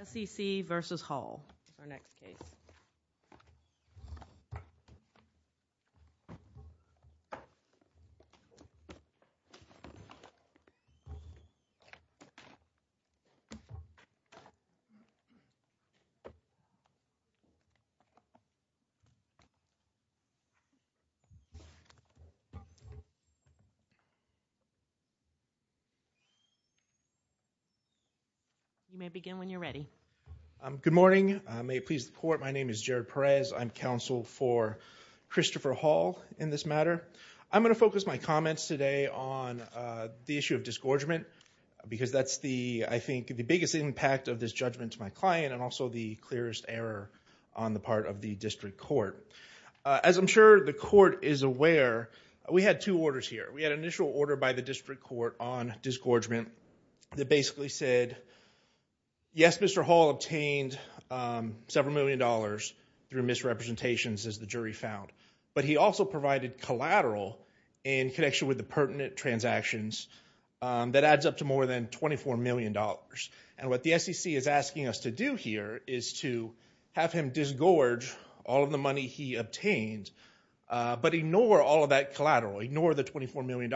S.E.C. v. Hall Good morning. May it please the Court, my name is Jared Perez. I'm counsel for Christopher Hall in this matter. I'm going to focus my comments today on the issue of disgorgement because that's the, I think, the biggest impact of this judgment to my client and also the As I'm sure the Court is aware, we had two orders here. We had an initial order by the District Court on disgorgement that basically said, yes, Mr. Hall obtained several million dollars through misrepresentations, as the jury found, but he also provided collateral in connection with the pertinent transactions that adds up to more than $24 million. And what the S.E.C. is asking us to do here is to have him disgorge all of the money he obtained, but ignore all of that collateral, ignore the $24 million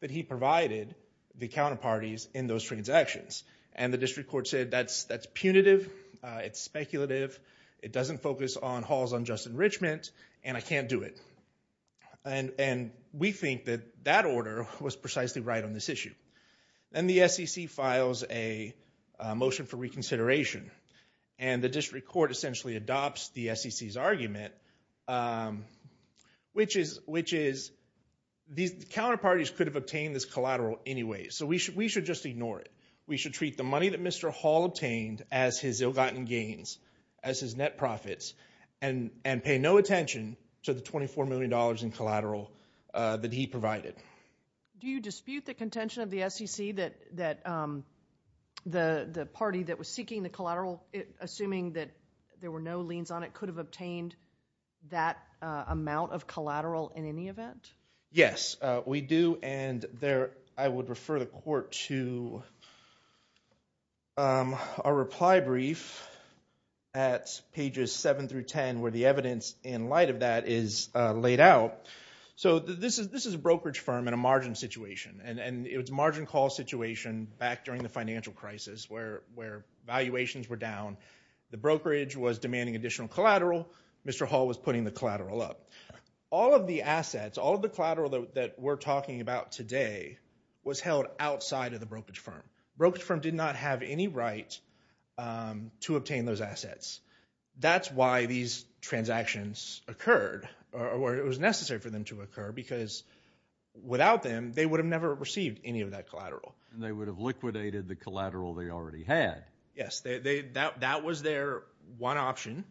that he provided the counterparties in those transactions. And the District Court said, that's punitive, it's speculative, it doesn't focus on Hall's unjust enrichment, and I can't do it. And we think that that order was precisely right on this issue. And the S.E.C. files a motion for reconsideration, and the District Court essentially adopts the S.E.C.'s argument, which is, these counterparties could have obtained this collateral anyway, so we should just ignore it. We should treat the money that Mr. Hall obtained as his ill-gotten gains, as his net profits, and pay no attention to the $24 million in collateral that he provided. Do you dispute the contention of the S.E.C. that the party that was seeking the collateral, assuming that there were no liens on it, could have obtained that amount of collateral in any event? Yes, we do, and I would refer the Court to a reply brief at pages 7 through 10, where the evidence in light of that is laid out. So this is a brokerage firm in a margin situation, and it was a margin call situation back during the financial crisis, where valuations were down, the brokerage was demanding additional collateral, Mr. Hall was putting the collateral up. All of the assets, all of the collateral that we're talking about today, was held outside of the brokerage firm. The brokerage firm did not have any right to obtain those assets. That's why these transactions occurred, or it was necessary for them to occur, because without them, they would have never received any of that collateral. They would have liquidated the collateral they already had. Yes, that was their one option,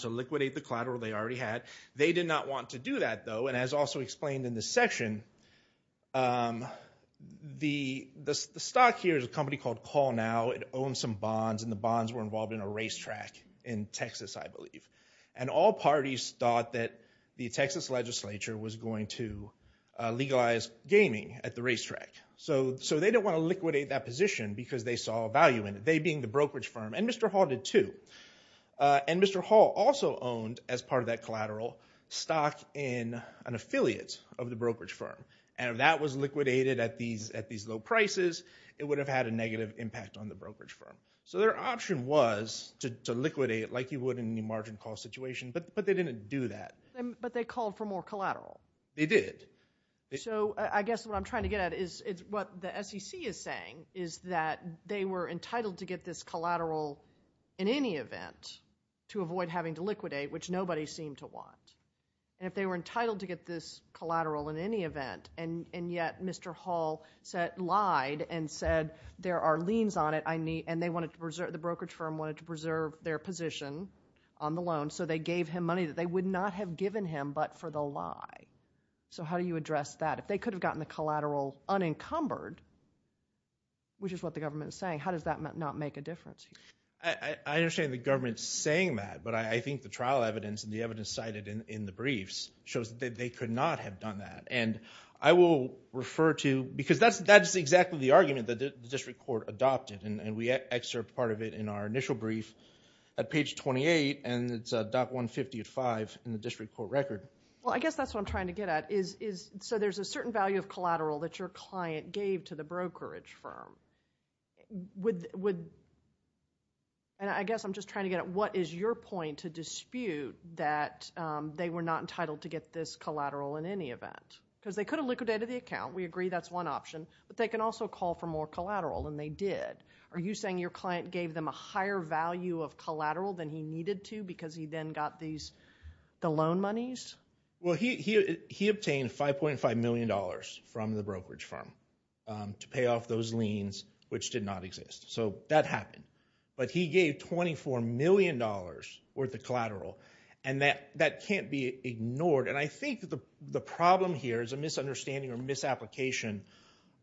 to liquidate the collateral they already had. They did not want to do that, though, and as also explained in this section, the stock here is a company called Call Now, it owns some bonds, and the bonds were involved in a racetrack in Texas, I believe. And all parties thought that the Texas legislature was going to legalize gaming at the racetrack. So they didn't want to liquidate that position because they saw value in it. They being the brokerage firm, and Mr. Hall did too. And Mr. Hall also owned, as part of that collateral, stock in an affiliate of the brokerage firm. And if that was liquidated at these low prices, it would have had a negative impact on the brokerage firm. So their option was to liquidate, like you would in a margin call situation, but they didn't do that. But they called for more collateral. They did. So I guess what I'm trying to get at is what the SEC is saying, is that they were entitled to get this collateral in any event to avoid having to liquidate, which nobody seemed to want. And if they were entitled to get this collateral in any event, and yet Mr. Hall lied and said, there are liens on it, and the brokerage firm wanted to preserve their position on the loan, so they gave him money that they would not have given him but for the lie. So how do you address that? If they could have gotten the collateral unencumbered, which is what the government is saying, how does that not make a difference? I understand the government's saying that, but I think the trial evidence and the evidence cited in the briefs shows that they could not have done that. And I will refer to, because that's exactly the argument that the district court adopted, and we excerpt part of it in our initial brief at page 28, and it's at .150 at 5 in the district court record. Well, I guess that's what I'm trying to get at is, so there's a certain value of collateral that your client gave to the brokerage firm. And I guess I'm just trying to get at, what is your point to dispute that they were not entitled to get this collateral in any event? Because they could have liquidated the account. We agree that's one option, but they can also call for more collateral, and they did. Are you saying your client gave them a higher value of collateral than he needed to because he then got the loan monies? Well, he obtained $5.5 million from the brokerage firm to pay off those liens, which did not exist. So that happened. But he gave $24 million worth of collateral, and that can't be ignored. And I think the problem here is a misunderstanding or misapplication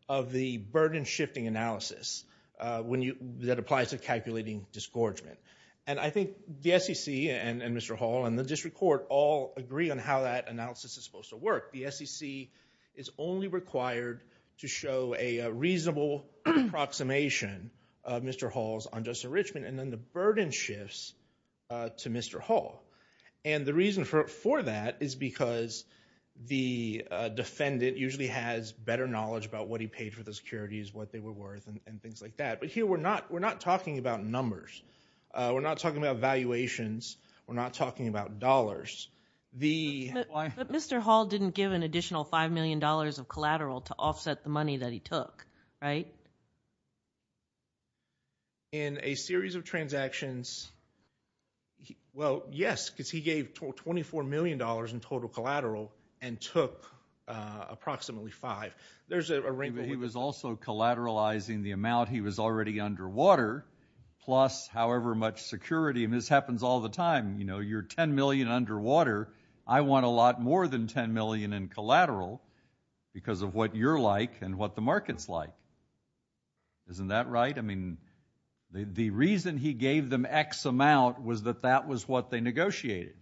of the burden-shifting analysis that applies to calculating disgorgement. And I think the SEC and Mr. Hall and the district court all agree on how that analysis is supposed to work. The SEC is only required to show a reasonable approximation of Mr. Hall's unjust enrichment, and then the burden shifts to Mr. Hall. And the reason for that is because the defendant usually has better knowledge about what he paid for the securities, what they were worth, and things like that. But here, we're not talking about numbers. We're not talking about valuations. We're not talking about dollars. But Mr. Hall didn't give an additional $5 million of collateral to offset the money that he took, right? In a series of transactions, well, yes, because he gave $24 million in total collateral and took approximately five. There's a range. He was also collateralizing the amount. He was already underwater, plus however much security, and this happens all the time. You know, you're $10 million underwater. I want a lot more than $10 million in collateral because of what you're like and what the market's like. Isn't that right? I mean, the reason he gave them X amount was that that was what they negotiated.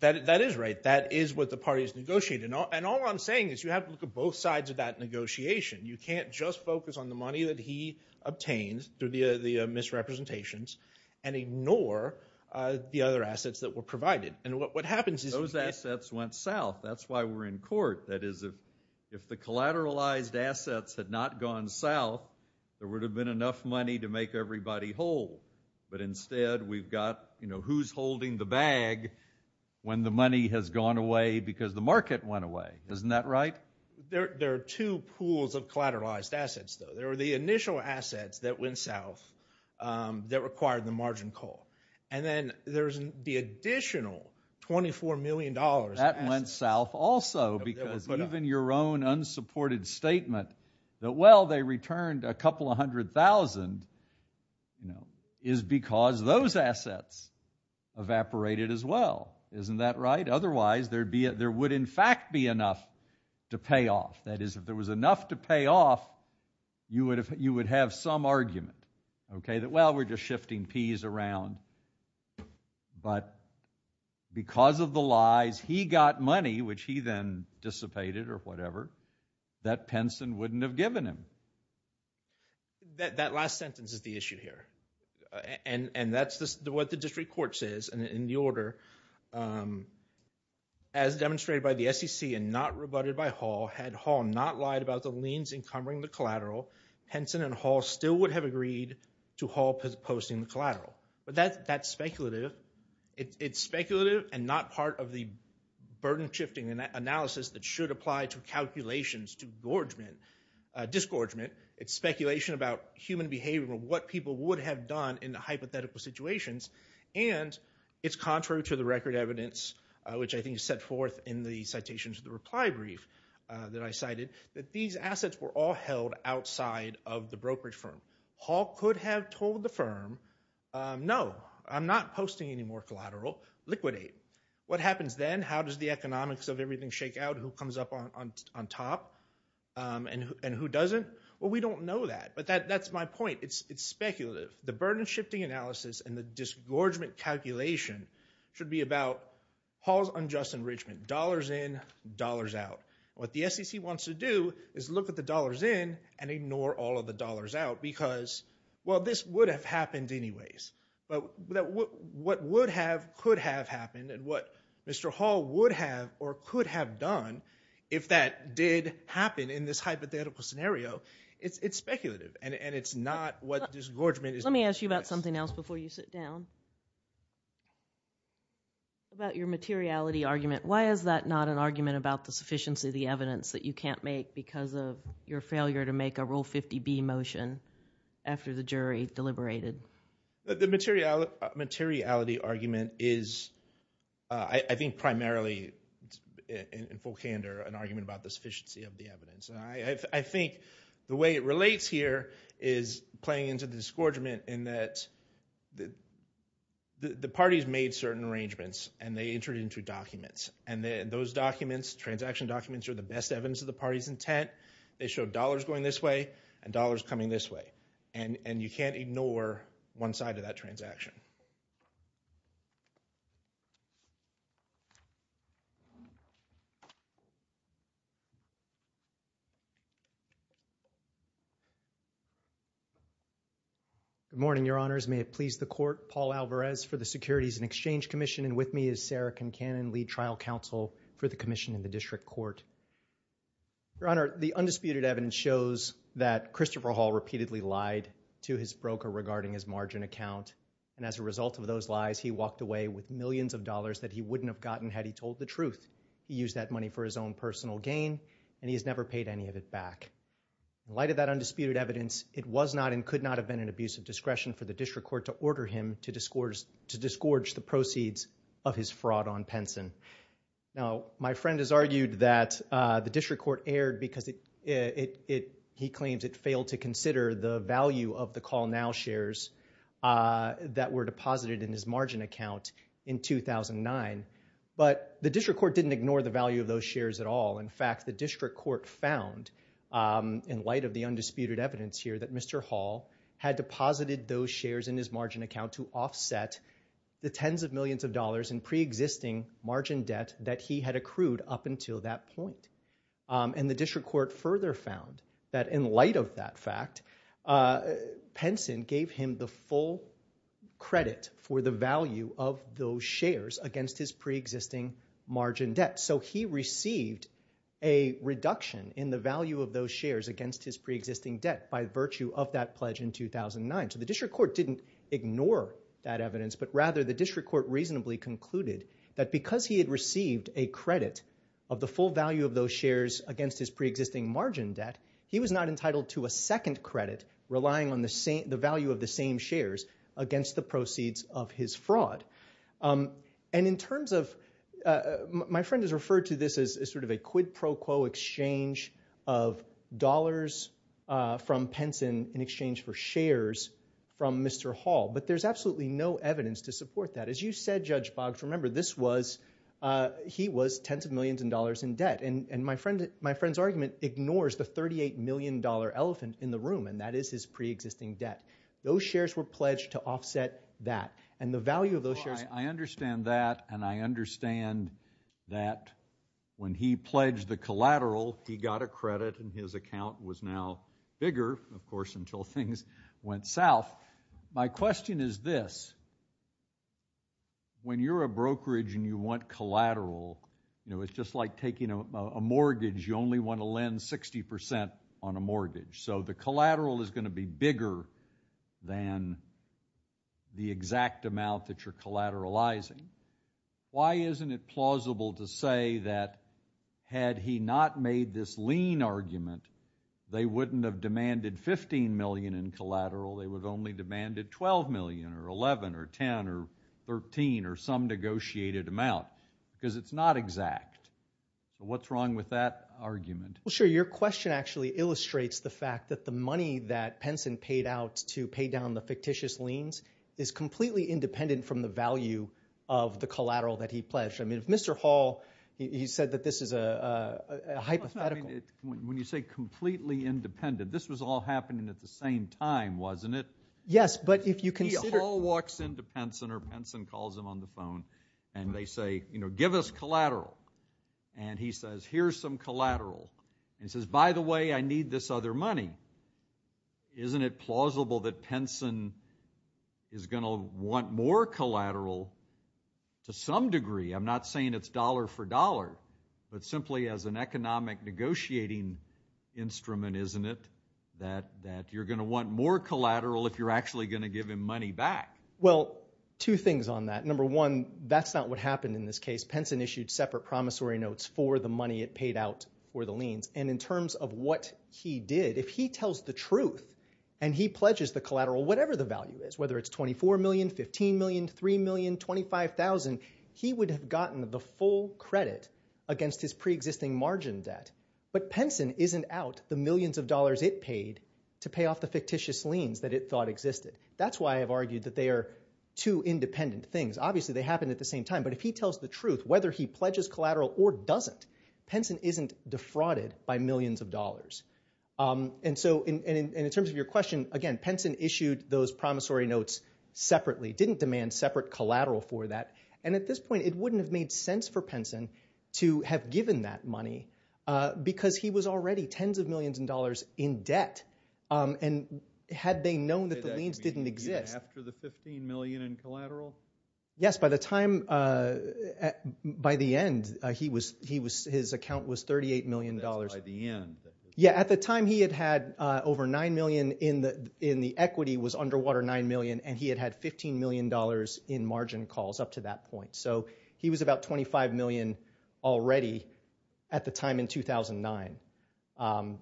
That is right. That is what the parties negotiated. And all I'm saying is you have to look at both sides of that negotiation. You can't just focus on the money that he obtained through the misrepresentations and ignore the other assets that were provided. And what happens is- Those assets went south. That's why we're in court. That is, if the collateralized assets had not gone south, there would have been enough money to make everybody whole. But instead, we've got, you know, who's holding the bag when the money has gone away because the market went away. Isn't that right? There are two pools of collateralized assets, though. There are the initial assets that went south that required the margin call. And then there's the additional $24 million- That went south also because even your own unsupported statement that, well, they returned a couple of hundred thousand, you know, is because those assets evaporated as well. Isn't that right? Otherwise, there would, in fact, be enough to pay off. That is, if there was enough to pay off, you would have some argument, okay, that, well, we're just shifting peas around. But because of the lies, he got money, which he then dissipated or whatever, that Penson wouldn't have given him. That last sentence is the issue here. And that's what the district court says in the order. As demonstrated by the SEC and not rebutted by Hall, had Hall not lied about the liens encumbering the collateral, Penson and Hall still would have agreed to Hall posting the collateral. But that's speculative. It's speculative and not part of the burden-shifting analysis that should apply to calculations to disgorgement. It's speculation about human behavior, what people would have done in the hypothetical situations. And it's contrary to the record evidence, which I think is set forth in the citation to the reply brief that I cited, that these assets were all held outside of the brokerage firm. Hall could have told the firm, no, I'm not posting any more collateral, liquidate. What happens then? How does the economics of everything shake out? Who comes up on top? And who doesn't? Well, we don't know that. But that's my point. It's speculative. The burden-shifting analysis and the disgorgement calculation should be about Hall's unjust enrichment. Dollars in, dollars out. What the SEC wants to do is look at the dollars in and ignore all of the dollars out because, well, this would have happened anyways. But what would have, could have happened, and what Mr. Hall would have or could have done if that did happen in this hypothetical scenario, it's speculative. And it's not what disgorgement is. Let me ask you about something else before you sit down, about your materiality argument. Why is that not an argument about the sufficiency of the evidence that you can't make because of your failure to make a Rule 50B motion after the jury deliberated? The materiality argument is, I think, primarily, in full candor, an argument about the sufficiency of the evidence. And I think the way it relates here is playing into the disgorgement in that the parties made certain arrangements and they entered into documents. And those documents, transaction documents, are the best evidence of the party's intent. They show dollars going this way and dollars coming this way. And you can't ignore one side of that transaction. Good morning, Your Honors. May it please the Court. Paul Alvarez for the Securities and Exchange Commission, and with me is Sarah Kincannon, Lead Trial Counsel for the Commission in the District Court. Your Honor, the undisputed evidence shows that Christopher Hall repeatedly lied to his broker regarding his margin account. And as a result of those lies, he walked away with millions of dollars that he wouldn't have gotten had he told the truth. He used that money for his own personal gain, and he has never paid any of it back. In light of that undisputed evidence, it was not and could not have been an abuse of discretion for the District Court to order him to disgorge the proceeds of his fraud on Penson. Now, my friend has argued that the District Court erred because he claims it failed to consider the value of the Call Now shares that were deposited in his margin account in 2009. But the District Court didn't ignore the value of those shares at all. In fact, the District Court found, in light of the undisputed evidence here, that Mr. Hall had deposited those shares in his margin account to offset the tens of millions of margin debt that he had accrued up until that point. And the District Court further found that in light of that fact, Penson gave him the full credit for the value of those shares against his preexisting margin debt. So he received a reduction in the value of those shares against his preexisting debt by virtue of that pledge in 2009. So the District Court didn't ignore that evidence, but rather the District Court reasonably concluded that because he had received a credit of the full value of those shares against his preexisting margin debt, he was not entitled to a second credit relying on the value of the same shares against the proceeds of his fraud. And in terms of – my friend has referred to this as sort of a quid pro quo exchange of dollars from Penson in exchange for shares from Mr. Hall. But there's absolutely no evidence to support that. As you said, Judge Boggs, remember this was – he was tens of millions of dollars in debt. And my friend's argument ignores the $38 million elephant in the room, and that is his preexisting debt. Those shares were pledged to offset that. And the value of those shares – Well, I understand that, and I understand that when he pledged the collateral, he got a credit, and his account was now bigger, of course, until things went south. My question is this. When you're a brokerage and you want collateral, you know, it's just like taking a mortgage. You only want to lend 60 percent on a mortgage. So the collateral is going to be bigger than the exact amount that you're collateralizing. Why isn't it plausible to say that had he not made this lean argument, they wouldn't have demanded $15 million in collateral? They would have only demanded $12 million, or $11 million, or $10 million, or $13 million, or some negotiated amount, because it's not exact. So what's wrong with that argument? Well, sure. Your question actually illustrates the fact that the money that Penson paid out to pay down the fictitious liens is completely independent from the value of the collateral that he pledged. I mean, if Mr. Hall – he said that this is a hypothetical – When you say completely independent, this was all happening at the same time, wasn't it? Yes, but if you consider – If P. Hall walks into Penson or Penson calls him on the phone and they say, you know, give us collateral, and he says, here's some collateral, and says, by the way, I need this other money, isn't it plausible that Penson is going to want more collateral to some degree? I'm not saying it's dollar for dollar, but simply as an economic negotiating instrument, isn't it, that you're going to want more collateral if you're actually going to give him money back? Well, two things on that. Number one, that's not what happened in this case. Penson issued separate promissory notes for the money it paid out for the liens. And in terms of what he did, if he tells the truth and he pledges the collateral, whatever the value is, whether it's $24 million, $15 million, $3 million, $25,000, he would have gotten the full credit against his pre-existing margin debt. But Penson isn't out the millions of dollars it paid to pay off the fictitious liens that it thought existed. That's why I've argued that they are two independent things. Obviously, they happened at the same time, but if he tells the truth, whether he pledges collateral or doesn't, Penson isn't defrauded by millions of dollars. And so, in terms of your question, again, Penson issued those promissory notes separately, didn't demand separate collateral for that. And at this point, it wouldn't have made sense for Penson to have given that money because he was already tens of millions of dollars in debt. And had they known that the liens didn't exist... Did that begin after the $15 million in collateral? Yes, by the time, by the end, his account was $38 million. Yeah, at the time, he had had over $9 million in the equity, was underwater $9 million, and he had had $15 million in margin calls up to that point. So he was about $25 million already at the time in 2009. And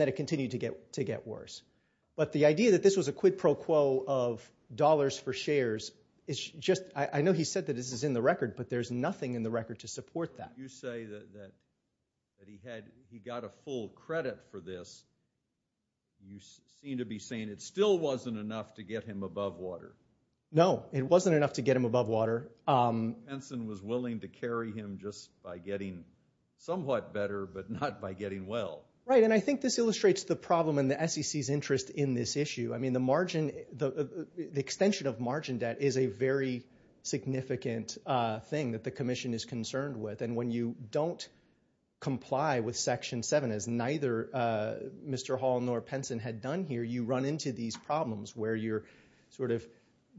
then it continued to get worse. But the idea that this was a quid pro quo of dollars for shares is just, I know he said that this is in the record, but there's nothing in the record to support that. But you say that he got a full credit for this. You seem to be saying it still wasn't enough to get him above water. No, it wasn't enough to get him above water. Penson was willing to carry him just by getting somewhat better, but not by getting well. Right, and I think this illustrates the problem in the SEC's interest in this issue. I mean, the extension of margin debt is a very significant thing that the Commission is concerned with. And when you don't comply with Section 7, as neither Mr. Hall nor Penson had done here, you run into these problems where you're sort of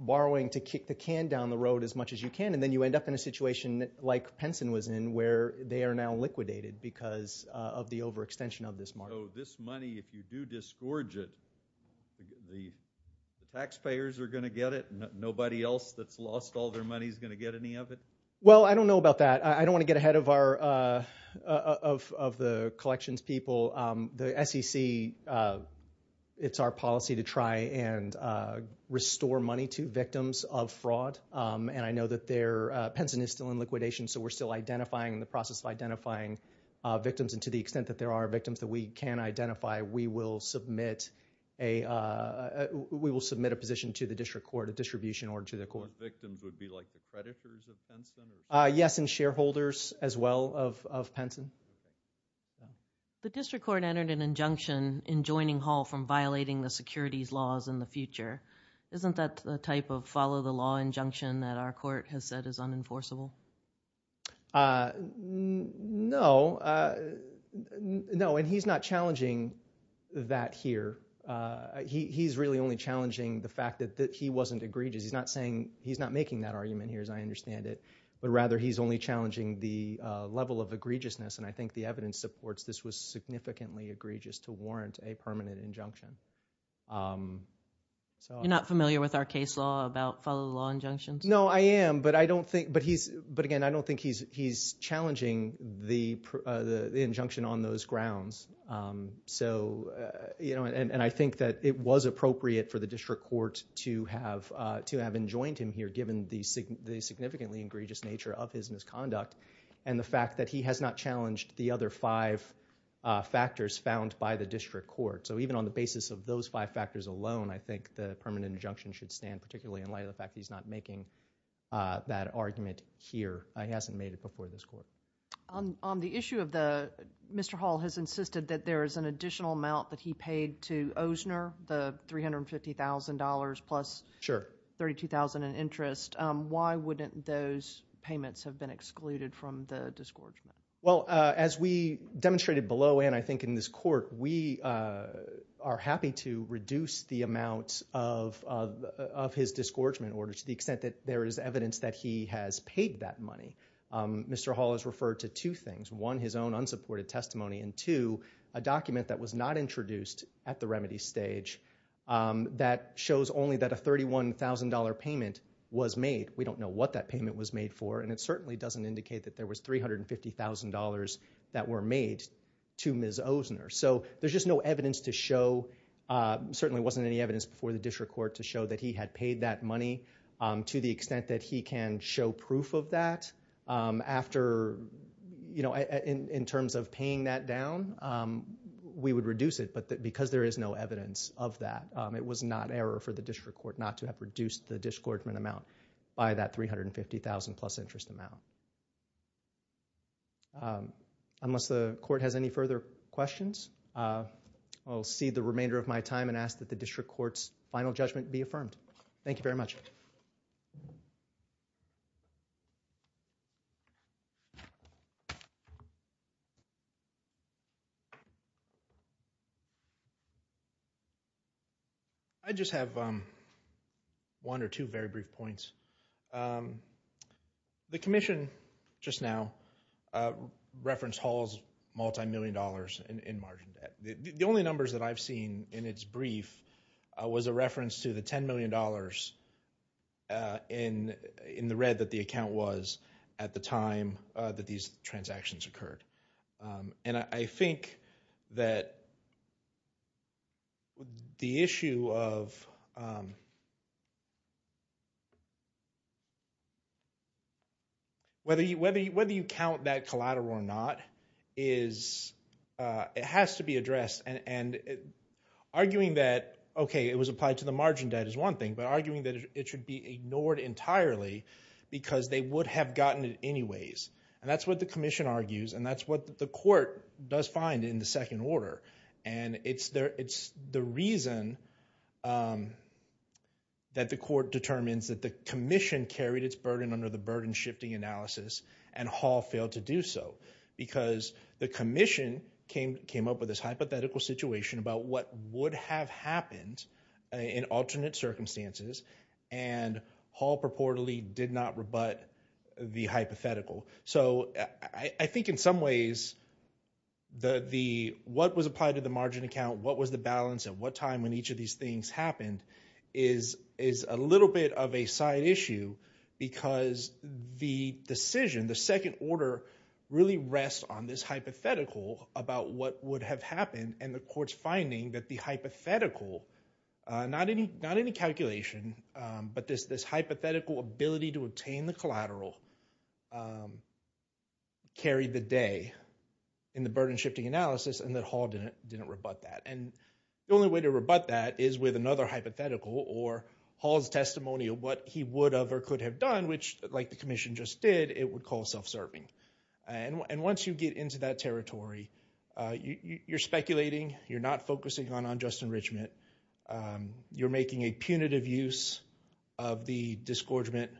borrowing to kick the can down the road as much as you can. And then you end up in a situation like Penson was in, where they are now liquidated because of the overextension of this margin. So this money, if you do disgorge it, the taxpayers are going to get it, and nobody else that's lost all their money is going to get any of it? Well, I don't know about that. I don't want to get ahead of the collections people. The SEC, it's our policy to try and restore money to victims of fraud. And I know that Penson is still in liquidation, so we're still identifying, in the process of identifying victims. And to the extent that there are victims that we can identify, we will submit a position The victims would be like the creditors of Penson? Yes, and shareholders as well of Penson. The District Court entered an injunction in joining Hall from violating the securities laws in the future. Isn't that the type of follow-the-law injunction that our court has said is unenforceable? No, and he's not challenging that here. He's really only challenging the fact that he wasn't egregious. He's not making that argument here as I understand it, but rather he's only challenging the level of egregiousness. And I think the evidence supports this was significantly egregious to warrant a permanent injunction. You're not familiar with our case law about follow-the-law injunctions? No, I am, but again, I don't think he's challenging the injunction on those grounds. So, you know, and I think that it was appropriate for the District Court to have enjoined him here given the significantly egregious nature of his misconduct and the fact that he has not challenged the other five factors found by the District Court. So even on the basis of those five factors alone, I think the permanent injunction should stand particularly in light of the fact that he's not making that argument here. He hasn't made it before this court. On the issue of the, Mr. Hall has insisted that there is an additional amount that he paid to Osner, the $350,000 plus $32,000 in interest. Why wouldn't those payments have been excluded from the disgorgement? Well, as we demonstrated below and I think in this court, we are happy to reduce the amount of his disgorgement order to the extent that there is evidence that he has paid that money. Mr. Hall has referred to two things. One, his own unsupported testimony and two, a document that was not introduced at the remedy stage that shows only that a $31,000 payment was made. We don't know what that payment was made for and it certainly doesn't indicate that there was $350,000 that were made to Ms. Osner. So there's just no evidence to show, certainly wasn't any evidence before the District Court to show that he had paid that money to the extent that he can show proof of that. In terms of paying that down, we would reduce it but because there is no evidence of that, it was not error for the District Court not to have reduced the disgorgement amount by that $350,000 plus interest amount. Unless the Court has any further questions, I'll cede the remainder of my time and ask that the District Court's final judgment be affirmed. Thank you very much. I just have one or two very brief points. The Commission just now referenced Hall's multimillion dollars in margin debt. The only numbers that I've seen in its brief was a reference to the $10 million in the red that the account was at the time that these transactions occurred. I think that the issue of whether you count that collateral or not, it has to be addressed. Arguing that, okay, it was applied to the margin debt is one thing, but arguing that it should be ignored entirely because they would have gotten it anyways. That's what the Commission argues and that's what the Court does find in the second order. It's the reason that the Court determines that the Commission carried its burden under the burden-shifting analysis and Hall failed to do so because the Commission came up with this hypothetical situation about what would have happened in alternate circumstances and Hall purportedly did not rebut the hypothetical. So I think in some ways what was applied to the margin account, what was the balance, and what time when each of these things happened is a little bit of a side issue because the decision, the second order, really rests on this hypothetical about what would have happened and the Court's finding that the hypothetical, not any calculation, but this hypothetical ability to obtain the collateral carried the day in the burden-shifting analysis and that Hall didn't rebut that. And the only way to rebut that is with another hypothetical or Hall's testimony of what he would have or could have done, which like the Commission just did, it would call self-serving. And once you get into that territory, you're speculating, you're not focusing on unjust enrichment, you're making a punitive use of the disgorgement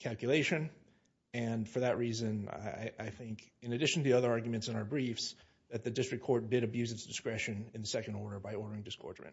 calculation, and for that reason I think, in addition to the other arguments in our briefs, that the District Court did abuse its discretion in the second order by ordering disgorgement. Thank you.